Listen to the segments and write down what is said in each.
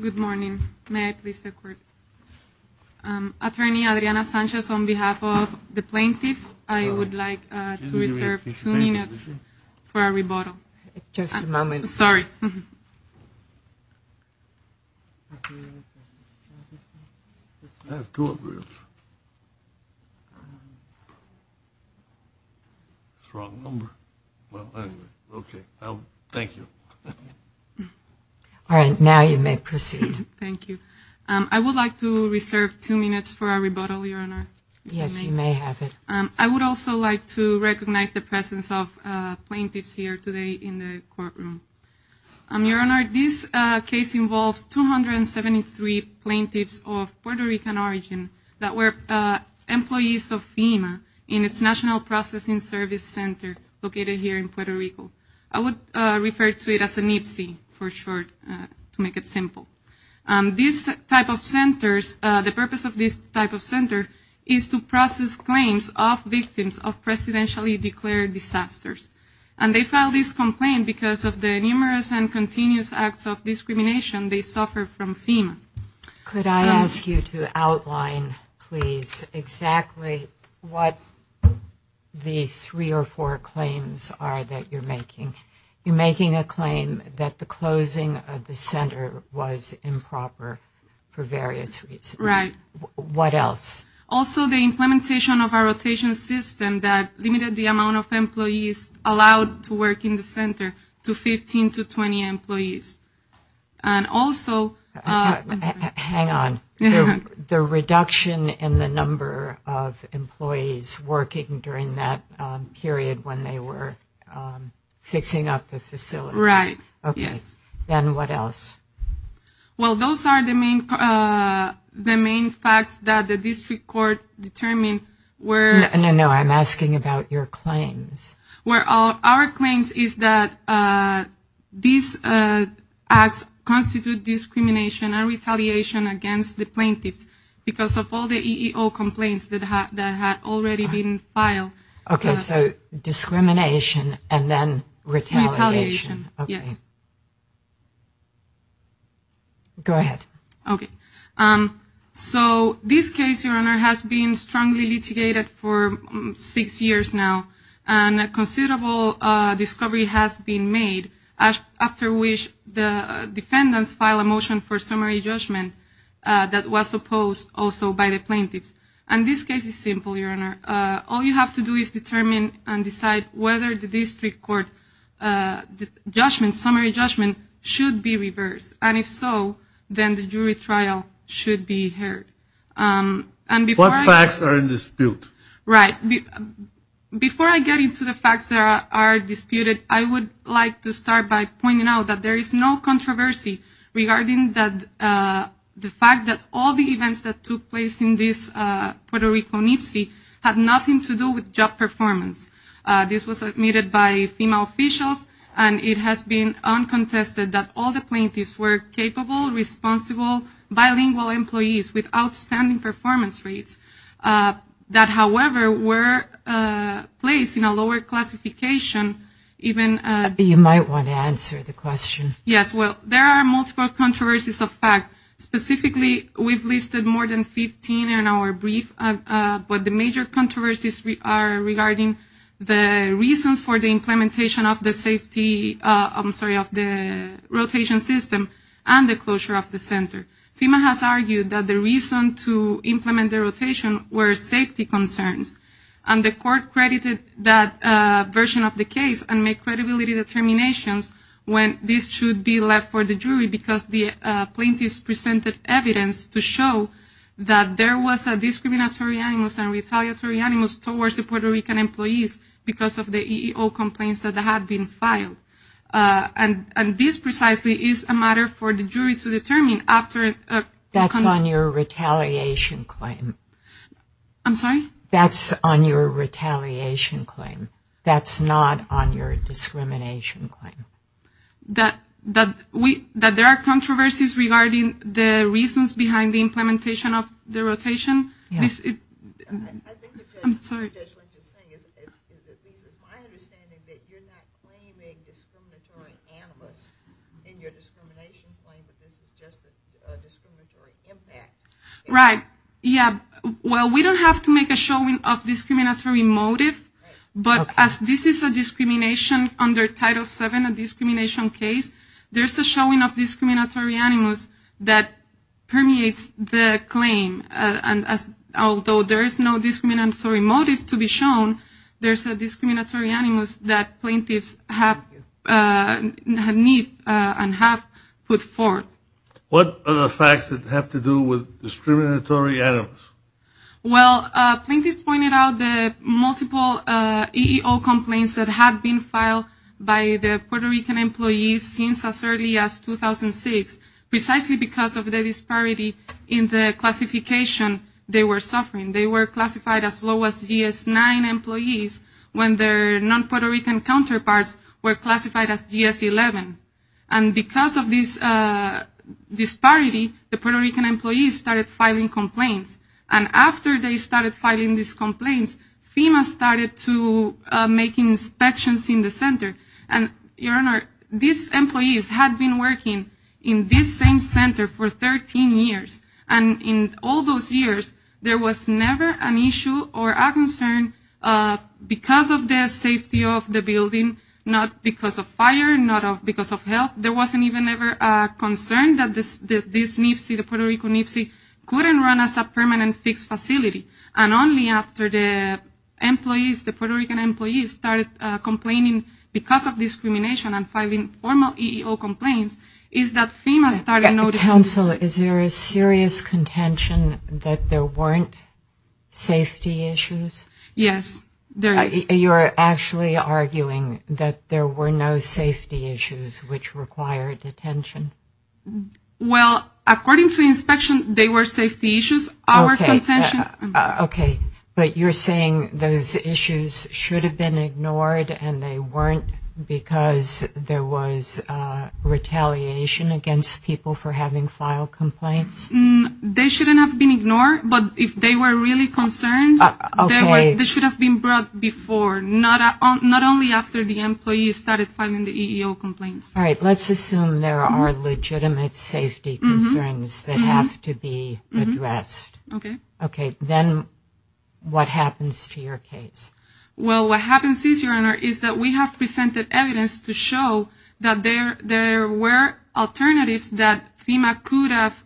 Good morning. May I please take the floor? Attorney Adriana Sanchez, on behalf of the plaintiffs, I would like to reserve two minutes for a rebuttal. Just a moment. Sorry. I have two appeals. It's the wrong number. Well, anyway, okay. Thank you. All right, now you may proceed. Thank you. I would like to reserve two minutes for a rebuttal, Your Honor. Yes, you may have it. I would also like to recognize the presence of plaintiffs here today in the courtroom. Your Honor, this case involves 273 plaintiffs of Puerto Rican origin that were employees of FEMA in its National Processing Service Center located here in Puerto Rico. I would refer to it as a NPSI for short, to make it simple. This type of centers, the purpose of this type of center is to process claims of victims of presidentially declared disasters. And they filed this complaint because of the numerous and continuous acts of discrimination they suffered from FEMA. Could I ask you to outline, please, exactly what the three or four claims are that you're making? You're making a claim that the closing of the center was improper for various reasons. Right. What else? Also, the implementation of our rotation system that limited the amount of employees allowed to work in the facility to 20 employees. And also... Hang on. The reduction in the number of employees working during that period when they were fixing up the facility. Right. Okay. Then what else? Well, those are the main facts that the District Court determined were... No, no, no. I'm asking about your claims. Our claims is that these acts constitute discrimination and retaliation against the plaintiffs because of all the EEO complaints that had already been filed. Okay, so discrimination and then retaliation. Yes. Go ahead. Okay. So this case, Your Honor, has been strongly litigated for six years now. And a considerable discovery has been made after which the defendants filed a motion for summary judgment that was opposed also by the plaintiffs. And this case is simple, Your Honor. All you have to do is determine and decide whether the District Court judgment, summary judgment, should be reversed. And if so, then the jury trial should be heard. And before... What facts are in dispute? Right. Before I get into the facts that are disputed, I would like to start by pointing out that there is no controversy regarding the fact that all the events that took place in this Puerto Rico NIPC had nothing to do with job performance. This was admitted by female officials and it has been uncontested that all the plaintiffs were capable, responsible, bilingual employees with outstanding performance rates that, however, were placed in a lower classification even... You might want to answer the question. Yes. Well, there are multiple controversies of fact. Specifically, we've listed more than 15 in our brief. But the major controversies are regarding the reasons for the implementation of the safety, I'm sorry, of the rotation system and the closure of the center. FEMA has argued that the reason to implement the rotation were safety concerns. And the court credited that version of the case and made credibility determinations when this should be left for the jury because the plaintiffs presented evidence to show that there was a discriminatory animus and retaliatory animus towards the Puerto Rican employees because of the EEO complaints that had been filed. And this precisely is a matter for the jury to determine after... That's on your retaliation claim. I'm sorry? That's on your retaliation claim. That's not on your discrimination claim. That there are controversies regarding the reasons behind the implementation of the rotation. I think what Judge Lynch is saying is that this is my understanding that you're not claiming discriminatory animus in your discrimination claim, but this is just a discriminatory impact. Right. Yeah. Well, we don't have to make a showing of discriminatory motive, but as this is a discrimination under Title VII, a discrimination case, there's a showing of the claim. And as although there is no discriminatory motive to be shown, there's a discriminatory animus that plaintiffs have had need and have put forth. What are the facts that have to do with discriminatory animus? Well, plaintiffs pointed out the multiple EEO complaints that had been filed by the Puerto Rican employees since as early as 2006, precisely because of the disparity in the classification they were suffering. They were classified as low as GS-9 employees when their non-Puerto Rican counterparts were classified as GS-11. And because of this disparity, the Puerto Rican employees started filing complaints. And after they started filing these complaints, FEMA started to make inspections in the center. And, Your Honor, these employees had been working in this same center for 13 years. And in all those years, there was never an issue or a concern because of the safety of the building, not because of fire, not because of health. There wasn't even ever a concern that this NIPSI, the Puerto Rican NIPSI, couldn't run as a permanent fixed facility. And only after the employees, the Puerto Rican employees, started complaining because of discrimination and filing formal EEO complaints is that FEMA started noticing this. Counsel, is there a serious contention that there weren't safety issues? Yes, there is. You are actually arguing that there were no safety issues which required attention? Well, according to inspection, they were But you're saying those issues should have been ignored and they weren't because there was retaliation against people for having filed complaints? They shouldn't have been ignored. But if they were really concerns, they should have been brought before, not only after the employees started filing the EEO complaints. All right. Let's assume there are legitimate safety concerns that have to be addressed. Okay. Okay. Then what happens to your case? Well, what happens is, Your Honor, is that we have presented evidence to show that there were alternatives that FEMA could have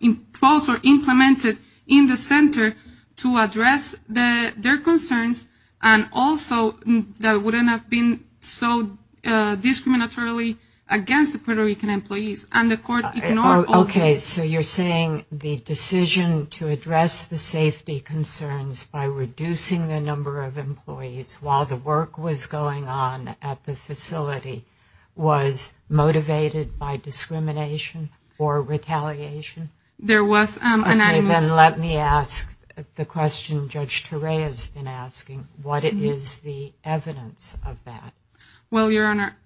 imposed or implemented in the center to address their concerns and also that wouldn't have been so discriminatory against the Puerto Rican employees and the court ignored all of them. Okay. So you're saying the decision to address the safety concerns by reducing the number of employees while the work was going on at the facility was motivated by discrimination or retaliation? There was an Okay. Then let me ask the question Judge Torrey has been asking. What is the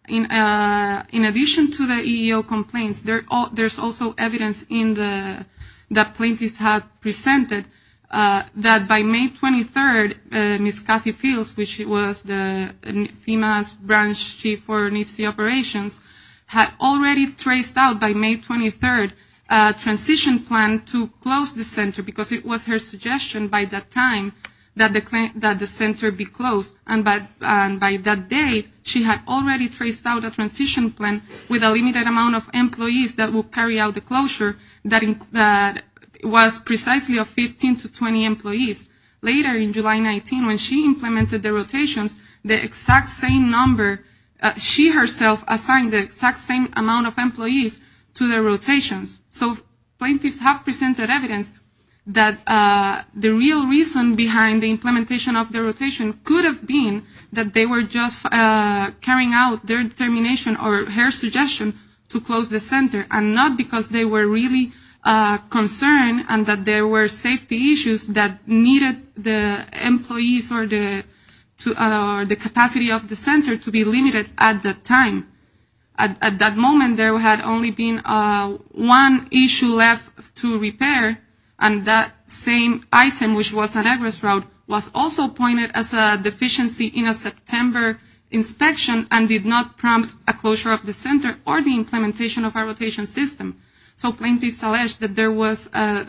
In addition to the EEO complaints, there's also evidence that plaintiffs have presented that by May 23rd, Ms. Kathy Fields, which was FEMA's branch chief for NIFC operations, had already traced out by May 23rd a transition plan to close the center because it was her suggestion by that time that the center be closed. And by that day, she had already traced out a transition plan with a limited amount of employees that would carry out the closure that was precisely of 15 to 20 employees. Later in July 19, when she implemented the rotations, the exact same number, she herself assigned the exact same amount of employees to the rotations. So plaintiffs have presented evidence that the real reason behind the implementation of the rotation could have been that they were just carrying out their determination or her suggestion to close the center and not because they were really concerned and that there were safety issues that needed the employees or the capacity of the center to be limited at that time. At that moment, there had only been one issue left to repair and that same item, which was an egress route, was also pointed as a deficiency in a September inspection and did not prompt a closure of the center or the implementation of our rotation system. So plaintiffs allege that there was a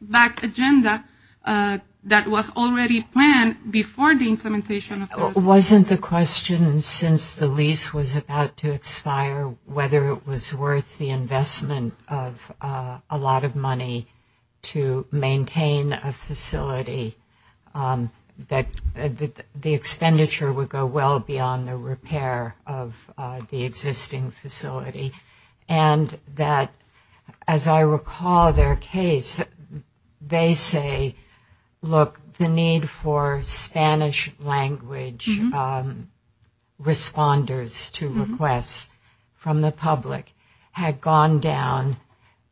back agenda that was already planned before the implementation of the rotation. It wasn't the question since the lease was about to expire whether it was worth the investment of a lot of money to maintain a facility that the expenditure would go well beyond the repair of the existing facility. And that, as I recall their case, they say, look, the need for Spanish language responders to request from the public had gone down.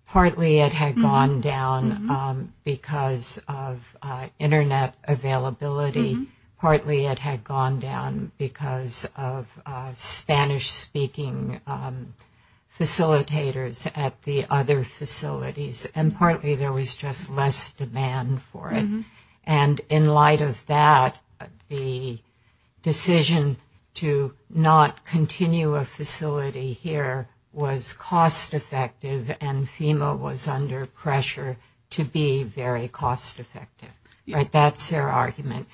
Partly it had gone down because of internet availability. Partly it had gone down because of Spanish-speaking facilitators at the other facilities. And partly there was just less demand for it. And in light of that, the decision to not continue a facility here was cost-effective and FEMA was under pressure to be very cost-effective. That's their argument.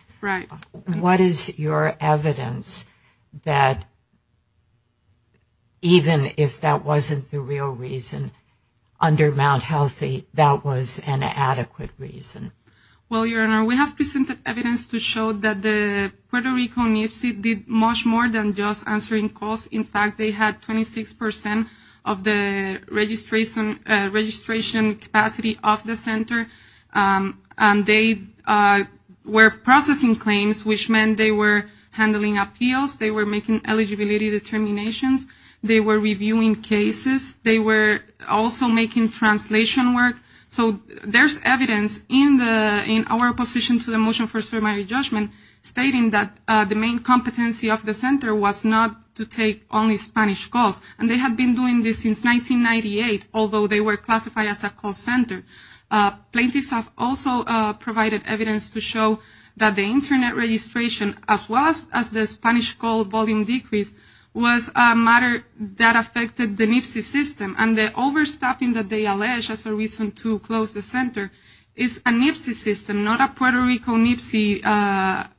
What is your evidence that even if that wasn't the real reason, under Mount the Puerto Rico NFC did much more than just answering calls. In fact, they had 26% of the registration capacity of the center. And they were processing claims, which meant they were handling appeals. They were making eligibility determinations. They were reviewing cases. They were also making translation work. So there's evidence in our position to the Motion for Ceremonial Judgment stating that the main competency of the center was not to take only Spanish calls. And they had been doing this since 1998, although they were classified as a call center. Plaintiffs have also provided evidence to show that the internet registration, as well as the Spanish call volume decrease, was a matter that affected the NFC system. And the overstaffing that they allege as a reason to close the center is a NFC system, not a Puerto Rico NFC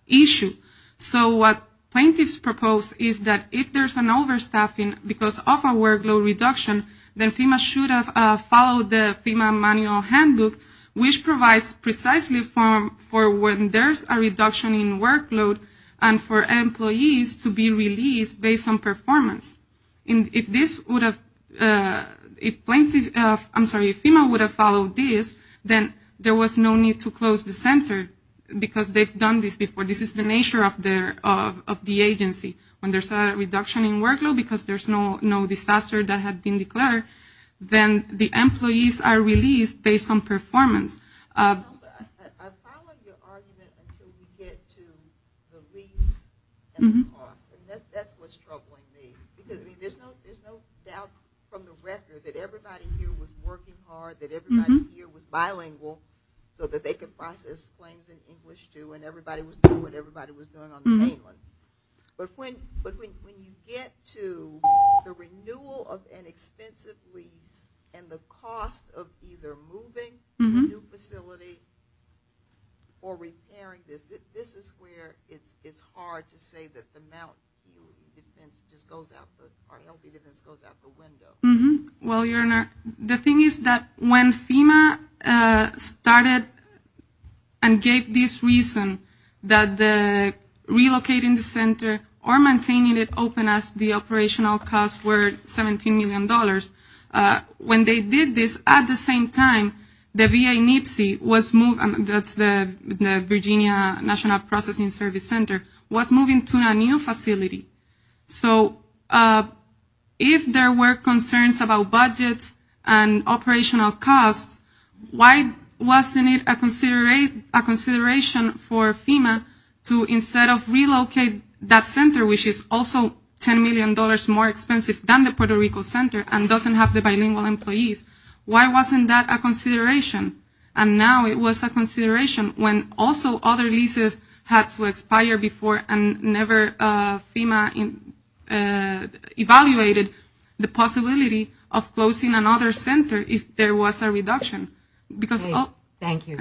issue. So what plaintiffs propose is that if there's an overstaffing because of a workload reduction, then FEMA should have followed the FEMA manual handbook, which provides precisely for when there's a reduction in workload and for employees to be released based on performance. And if FEMA would have followed this, then there was no need to close the center because they've done this before. This is the nature of the agency. When there's a reduction in workload because there's no disaster that had been declared, then the employees are released based on performance. I'm following your argument until we get to the lease and the cost. And that's what's troubling me. Because there's no doubt from the record that everybody here was working hard, that everybody here was bilingual so that they could process claims in English too, and everybody was doing what everybody was doing on the mainland. But when you get to the renewal of an expensive lease and the cost of either moving the new facility or repairing this, this is where it's hard to say that the mount defense just goes out the window. Well, Your Honor, the thing is that when FEMA started and gave this reason that relocating the center or maintaining it open as the operational costs were $17 million, when they did this at the same time, the VA NIPSI, that's the Virginia National Processing Service Center, was moving to a new facility. So if there were concerns about budgets and operational costs, why wasn't it a consideration for FEMA to instead of relocate that center, which is also $10 million more expensive than the Puerto Rico center and doesn't have the bilingual employees, why wasn't that a consideration? And now it was a consideration when also other leases had to expire before and never FEMA evaluated the possibility of closing another center if there was a reduction. Thank you.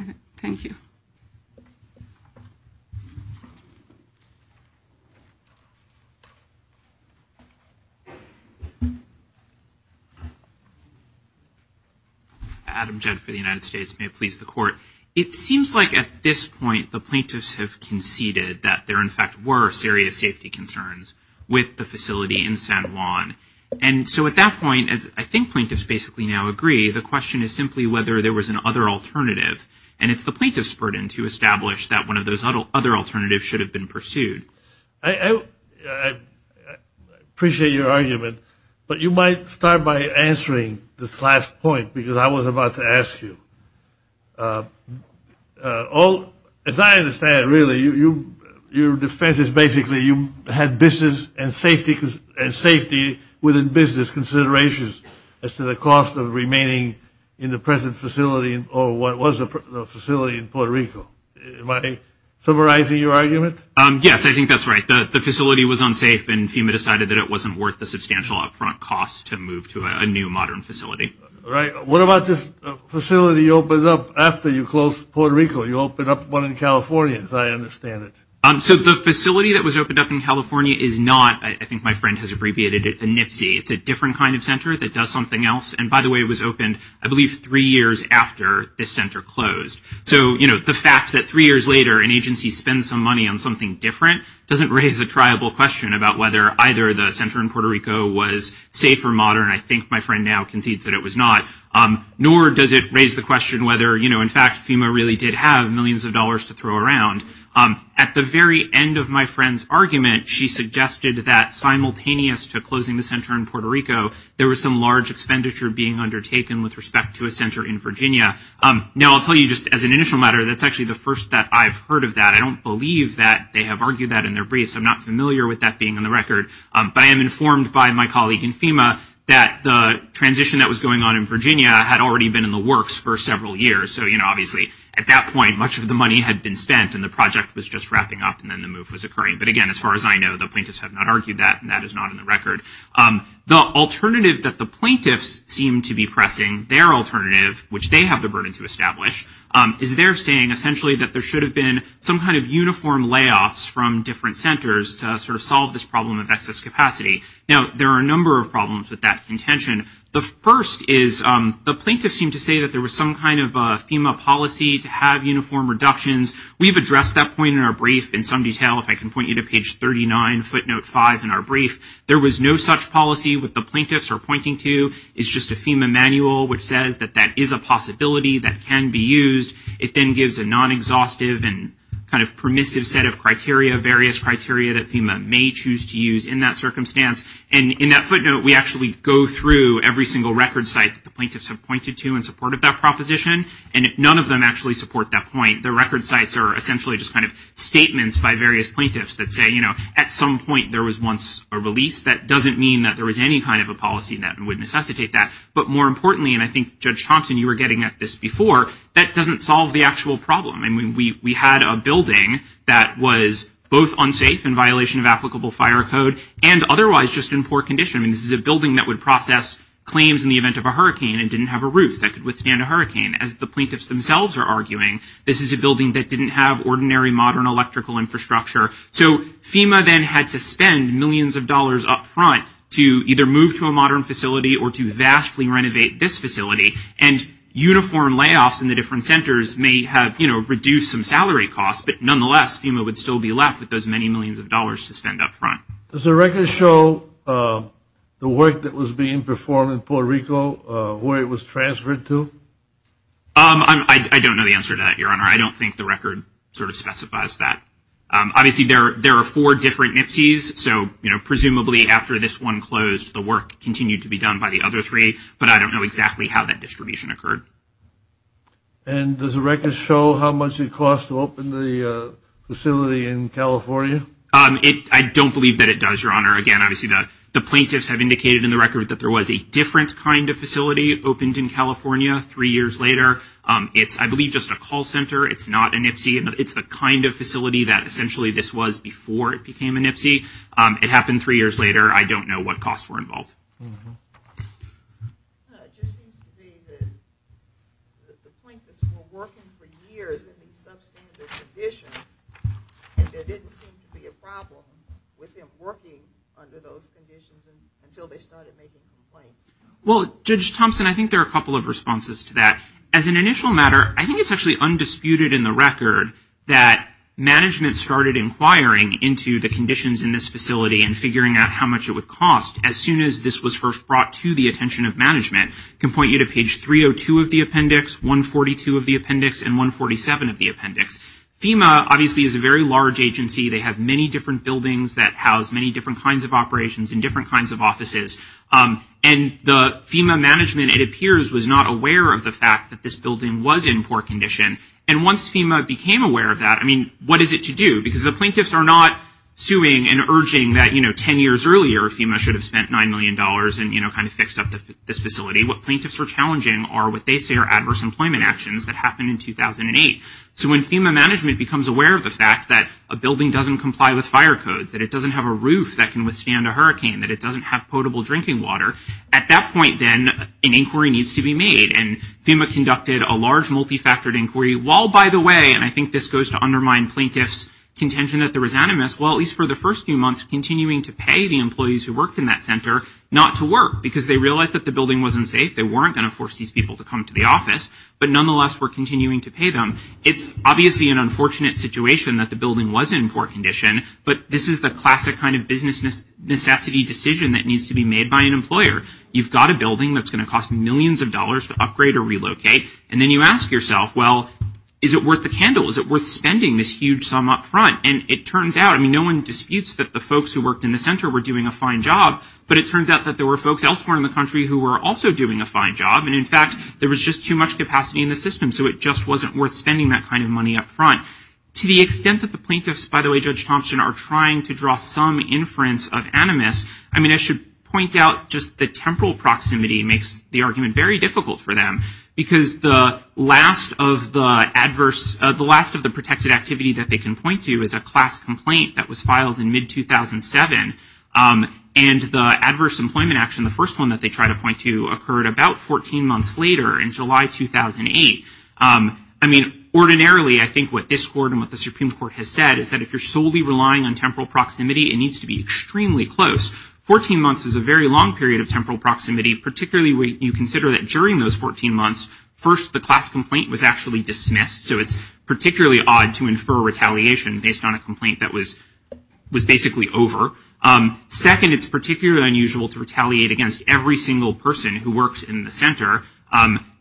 Adam Jett for the United States. May it please the Court. It seems like at this point the plaintiffs have conceded that there in fact were serious safety concerns with the facility in San Juan. And so at that point, as I think plaintiffs basically now agree, the question is simply whether there was another alternative. And it's the plaintiff's burden to establish that one of those other alternatives should have been pursued. I appreciate your argument, but you might start by answering this last point because I was about to ask you. As I understand it really, your defense is basically you had business and safety within business considerations as to the cost of remaining in the present facility or what was the facility in Puerto Rico. Am I summarizing your argument? Yes, I think that's right. The facility was unsafe and FEMA decided that it wasn't worth the substantial upfront cost to move to a new modern facility. What about this facility you opened up after you closed Puerto Rico? You opened up one in California, as I understand it. So the facility that was opened up in California is not, I think my friend has abbreviated it a NPSI. It's a different kind of center that does something else. And by the way, it was opened I believe three years after the center closed. So the fact that three years later an agency spends some money on something different doesn't raise a triable question about whether either the center in Puerto Rico was safe or modern. I think my friend now concedes that it was not. Nor does it raise the question whether in fact FEMA really did have millions of dollars to throw around. At the very end of my friend's argument, she suggested that simultaneous to closing the center in Puerto Rico, there was some large expenditure being undertaken with respect to a center in Virginia. Now I'll tell you just as an initial matter, that's actually the first that I've heard of that. I don't believe that they have argued that in their briefs. I'm not familiar with that being on the record. But I am informed by my colleague in FEMA that the transition that was going on in Virginia had already been in the works for several years. So obviously at that point, much of the money had been spent and the project was just wrapping up and then the move was occurring. But again, as far as I know, the plaintiffs have not argued that and that is not on the record. The alternative that the plaintiffs seem to be pressing, their alternative, which they have the burden to establish, is they're saying essentially that there should have been some kind of uniform layoffs from different centers to sort of solve this problem of excess capacity. Now there are a number of problems with that contention. The first is the plaintiffs seem to say that there was some kind of FEMA policy to have uniform reductions. We've addressed that point in our brief in some detail. If I can point you to page 39, footnote 5 in our brief, there was no such policy. What the plaintiffs are pointing to is just a FEMA manual which says that that is a possibility that can be used. It then gives a non-exhaustive and non-exhaustive policy that FEMA may choose to use in that circumstance. And in that footnote, we actually go through every single record site that the plaintiffs have pointed to in support of that proposition. And none of them actually support that point. The record sites are essentially just kind of statements by various plaintiffs that say, you know, at some point there was once a release. That doesn't mean that there was any kind of a policy that would necessitate that. But more importantly, and I think Judge Thompson, you were getting at this before, that doesn't solve the actual problem. I mean, we had a building that was both unsafe in violation of applicable fire code and otherwise just in poor condition. I mean, this is a building that would process claims in the event of a hurricane and didn't have a roof that could withstand a hurricane. As the plaintiffs themselves are arguing, this is a building that didn't have ordinary modern electrical infrastructure. So FEMA then had to spend millions of dollars up front to either move to a modern facility or to vastly renovate this facility. And uniform layoffs in the different centers may have, you know, reduced some salary costs. But nonetheless, FEMA would still be left with those many millions of dollars to spend up front. Does the record show the work that was being performed in Puerto Rico, where it was transferred to? I don't know the answer to that, Your Honor. I don't think the record sort of specifies that. Obviously, there are four different NIPSIs. So, you know, presumably after this one closed, the work continued to be done by the other three. But I don't know exactly how that distribution occurred. And does the record show how much it cost to open the facility in California? I don't believe that it does, Your Honor. Again, obviously, the plaintiffs have indicated in the record that there was a different kind of facility opened in California three years later. It's, I believe, just a call center. It's not a NIPSI. It's the kind of facility that essentially this was before it became a NIPSI. It happened three years later. I don't know what costs were involved. It just seems to be that the plaintiffs were working for years in these substandard conditions and there didn't seem to be a problem with them working under those conditions until they And I think there are a couple of responses to that. As an initial matter, I think it's actually undisputed in the record that management started inquiring into the conditions in this facility and figuring out how much it would cost as soon as this was first brought to the attention of management. I can point you to page 302 of the appendix, 142 of the appendix, and 147 of the appendix. FEMA, obviously, is a very large agency. They have many different buildings that house many different kinds of operations in different kinds of offices. And the FEMA management, it appears, was not aware of the fact that this building was in poor condition. And once FEMA became aware of that, I mean, what is it to do? Because the plaintiffs are not suing and urging that, you know, 10 years earlier FEMA should have spent $9 million and, you know, kind of fixed up this facility. What plaintiffs are challenging are what they say are adverse employment actions that happened in 2008. So when FEMA management becomes aware of the fact that a building doesn't comply with fire codes, that it doesn't have a roof that can withstand a hurricane, that it doesn't have potable drinking water, at that point, then, an inquiry needs to be made. And FEMA conducted a large multifactored inquiry, while, by the way, and I think this goes to undermine plaintiffs' contention that there was animus, well, at least for the first few months, continuing to pay the employees who worked in that center not to work, because they realized that the building wasn't safe, they weren't going to force these people to come to the office, but nonetheless were continuing to pay them. It's obviously an unfortunate situation that the building was in poor condition, but this is the classic kind of business necessity decision that needs to be made by an employer. You've got a building that's going to cost millions of dollars to upgrade or relocate, and then you ask yourself, well, is it worth the candle? Is it worth spending this huge sum upfront? And it turns out, I mean, no one disputes that the folks who worked in the center were doing a fine job, but it turns out that there were folks elsewhere in the country who were also doing a fine job, and in fact, there was just too much capacity in the system, so it just wasn't worth spending that kind of money upfront. To the extent that the plaintiffs, by the way, Judge Thompson, are trying to draw some inference of animus, I mean, I should point out just the temporal proximity makes the argument very difficult for them, because the last of the protected activity that they can point to is a class complaint that was filed in mid-2007, and the adverse employment action, the first one that they try to point to, occurred about 14 months later in July 2008. I mean, ordinarily, I think what this court and what the Supreme Court has said is that if you're solely relying on temporal proximity, it needs to be extremely close. Fourteen months is a very long period of temporal proximity, particularly when you consider that during those 14 months, first, the class complaint was actually dismissed, so it's particularly odd to infer retaliation based on a complaint that was basically over. Second, it's particularly unusual to retaliate against every single person who works in the center,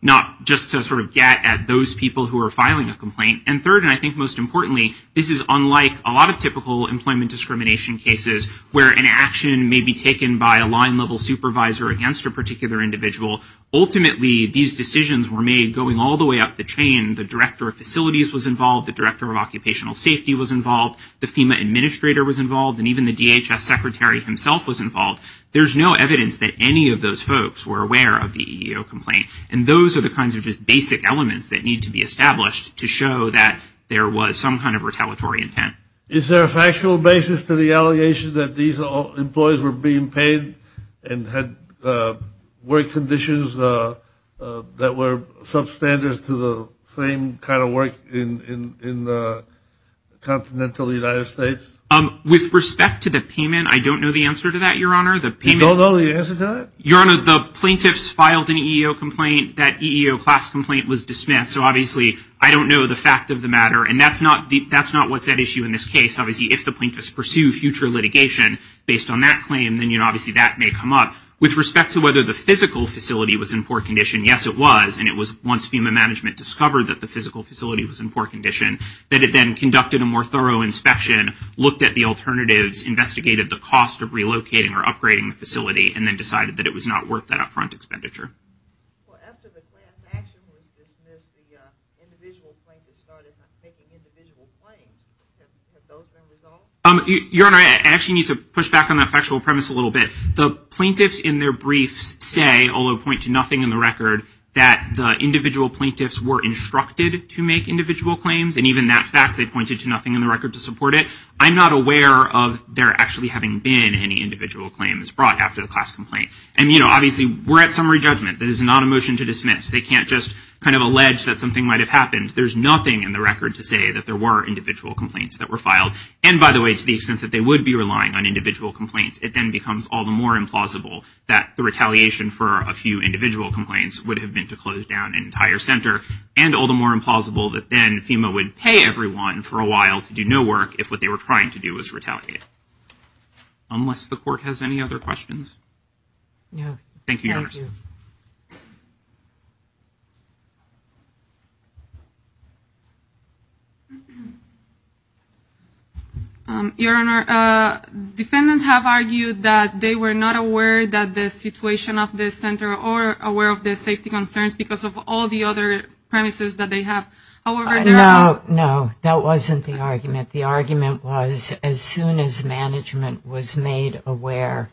not just to sort of get at those people who are filing a complaint, and third, and I think most importantly, this is unlike a lot of typical employment discrimination cases where an action may be taken by a line-level supervisor against a particular individual. Ultimately, these decisions were made going all the way up the chain. The director of facilities was involved. The director of occupational safety was involved. The FEMA administrator was involved, and even the DHS secretary himself was involved. There's no evidence that any of those folks were aware of the EEO complaint, and those are the kinds of just basic elements that need to be established to show that there was some kind of retaliatory intent. Is there a factual basis to the allegation that these employees were being paid and had work conditions that were substandard to the same kind of work in the continental United States? With respect to the payment, I don't know the answer to that, Your Honor. You don't know the answer to that? Your Honor, the plaintiffs filed an EEO complaint. That EEO class complaint was dismissed, so obviously I don't know the fact of the matter, and that's not what's at issue in this case. Obviously, if the plaintiffs pursue future litigation based on that claim, then obviously that may come up. With respect to whether the physical facility was in poor condition, yes, it was, and it was once FEMA management discovered that the physical facility was in poor condition, that it then conducted a more thorough inspection, looked at the alternatives, investigated the cost of relocating or upgrading the facility, and then decided that it was not worth that upfront expenditure. Your Honor, I actually need to push back on that factual premise a little bit. The plaintiffs in their briefs say, although point to nothing in the record, that the individual plaintiffs were instructed to make individual claims, and even that fact they pointed to nothing in the record to support it, I'm not aware of there actually having been any individual claims brought after the class complaint. And, you know, obviously we're at summary judgment. That is not a motion to dismiss. They can't just kind of allege that something might have happened. There's nothing in the record to say that there were individual complaints that were filed. And, by the way, to the extent that they would be relying on individual complaints, it then becomes all the more implausible that the retaliation for a few individual complaints would have been to close down an entire center, and all the more implausible that then FEMA would pay everyone for a while to do no work if what they were trying to do was retaliate. Unless the Court has any other questions. Thank you, Your Honor. Your Honor, defendants have argued that they were not aware that the situation of this center or aware of the safety concerns because of all the other premises that they have. No, that wasn't the argument. The argument was as soon as management was made aware,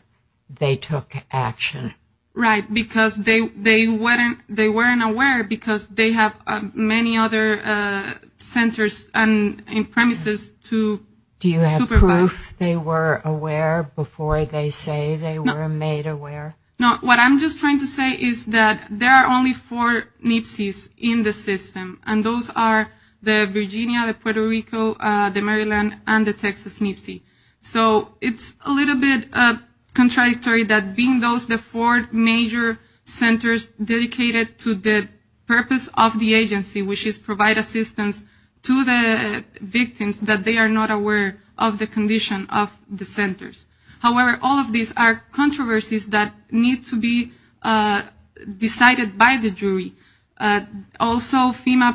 they took action. Right, because they weren't aware because they have many other centers and premises to supervise. Do you have proof they were aware before they say they were made aware? No, what I'm just trying to say is that there are only four NPSEs in the system, and those are the Virginia, the Puerto Rico, the Maryland, and the Texas NPSE. So it's a little bit contradictory that being those the four major centers dedicated to the purpose of the agency, which is provide assistance to the victims, that they are not aware of the condition of the centers. However, all of these are controversies that need to be decided by the jury. Also, FEMA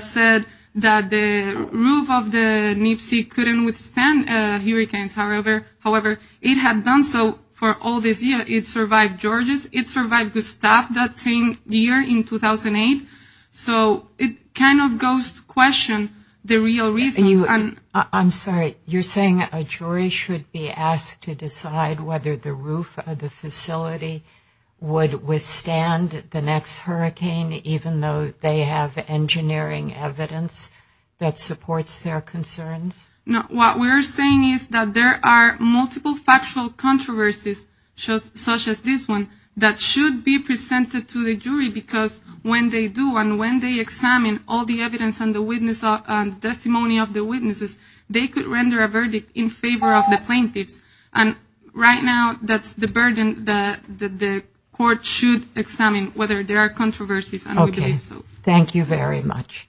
said that the roof of the NPSE couldn't withstand the heat, however, it had done so for all this year. It survived Georges, it survived Gustav that same year in 2008. So it kind of goes to question the real reasons. I'm sorry, you're saying a jury should be asked to decide whether the roof of the facility would withstand the next hurricane, even though they have engineering evidence that supports their concerns? No, what we're saying is that there are multiple factual controversies such as this one that should be presented to the jury, because when they do and when they examine all the evidence and the testimony of the witnesses, they could render a verdict in favor of the plaintiffs. And right now, that's the burden that the court should examine, whether there are controversies. Okay, thank you very much.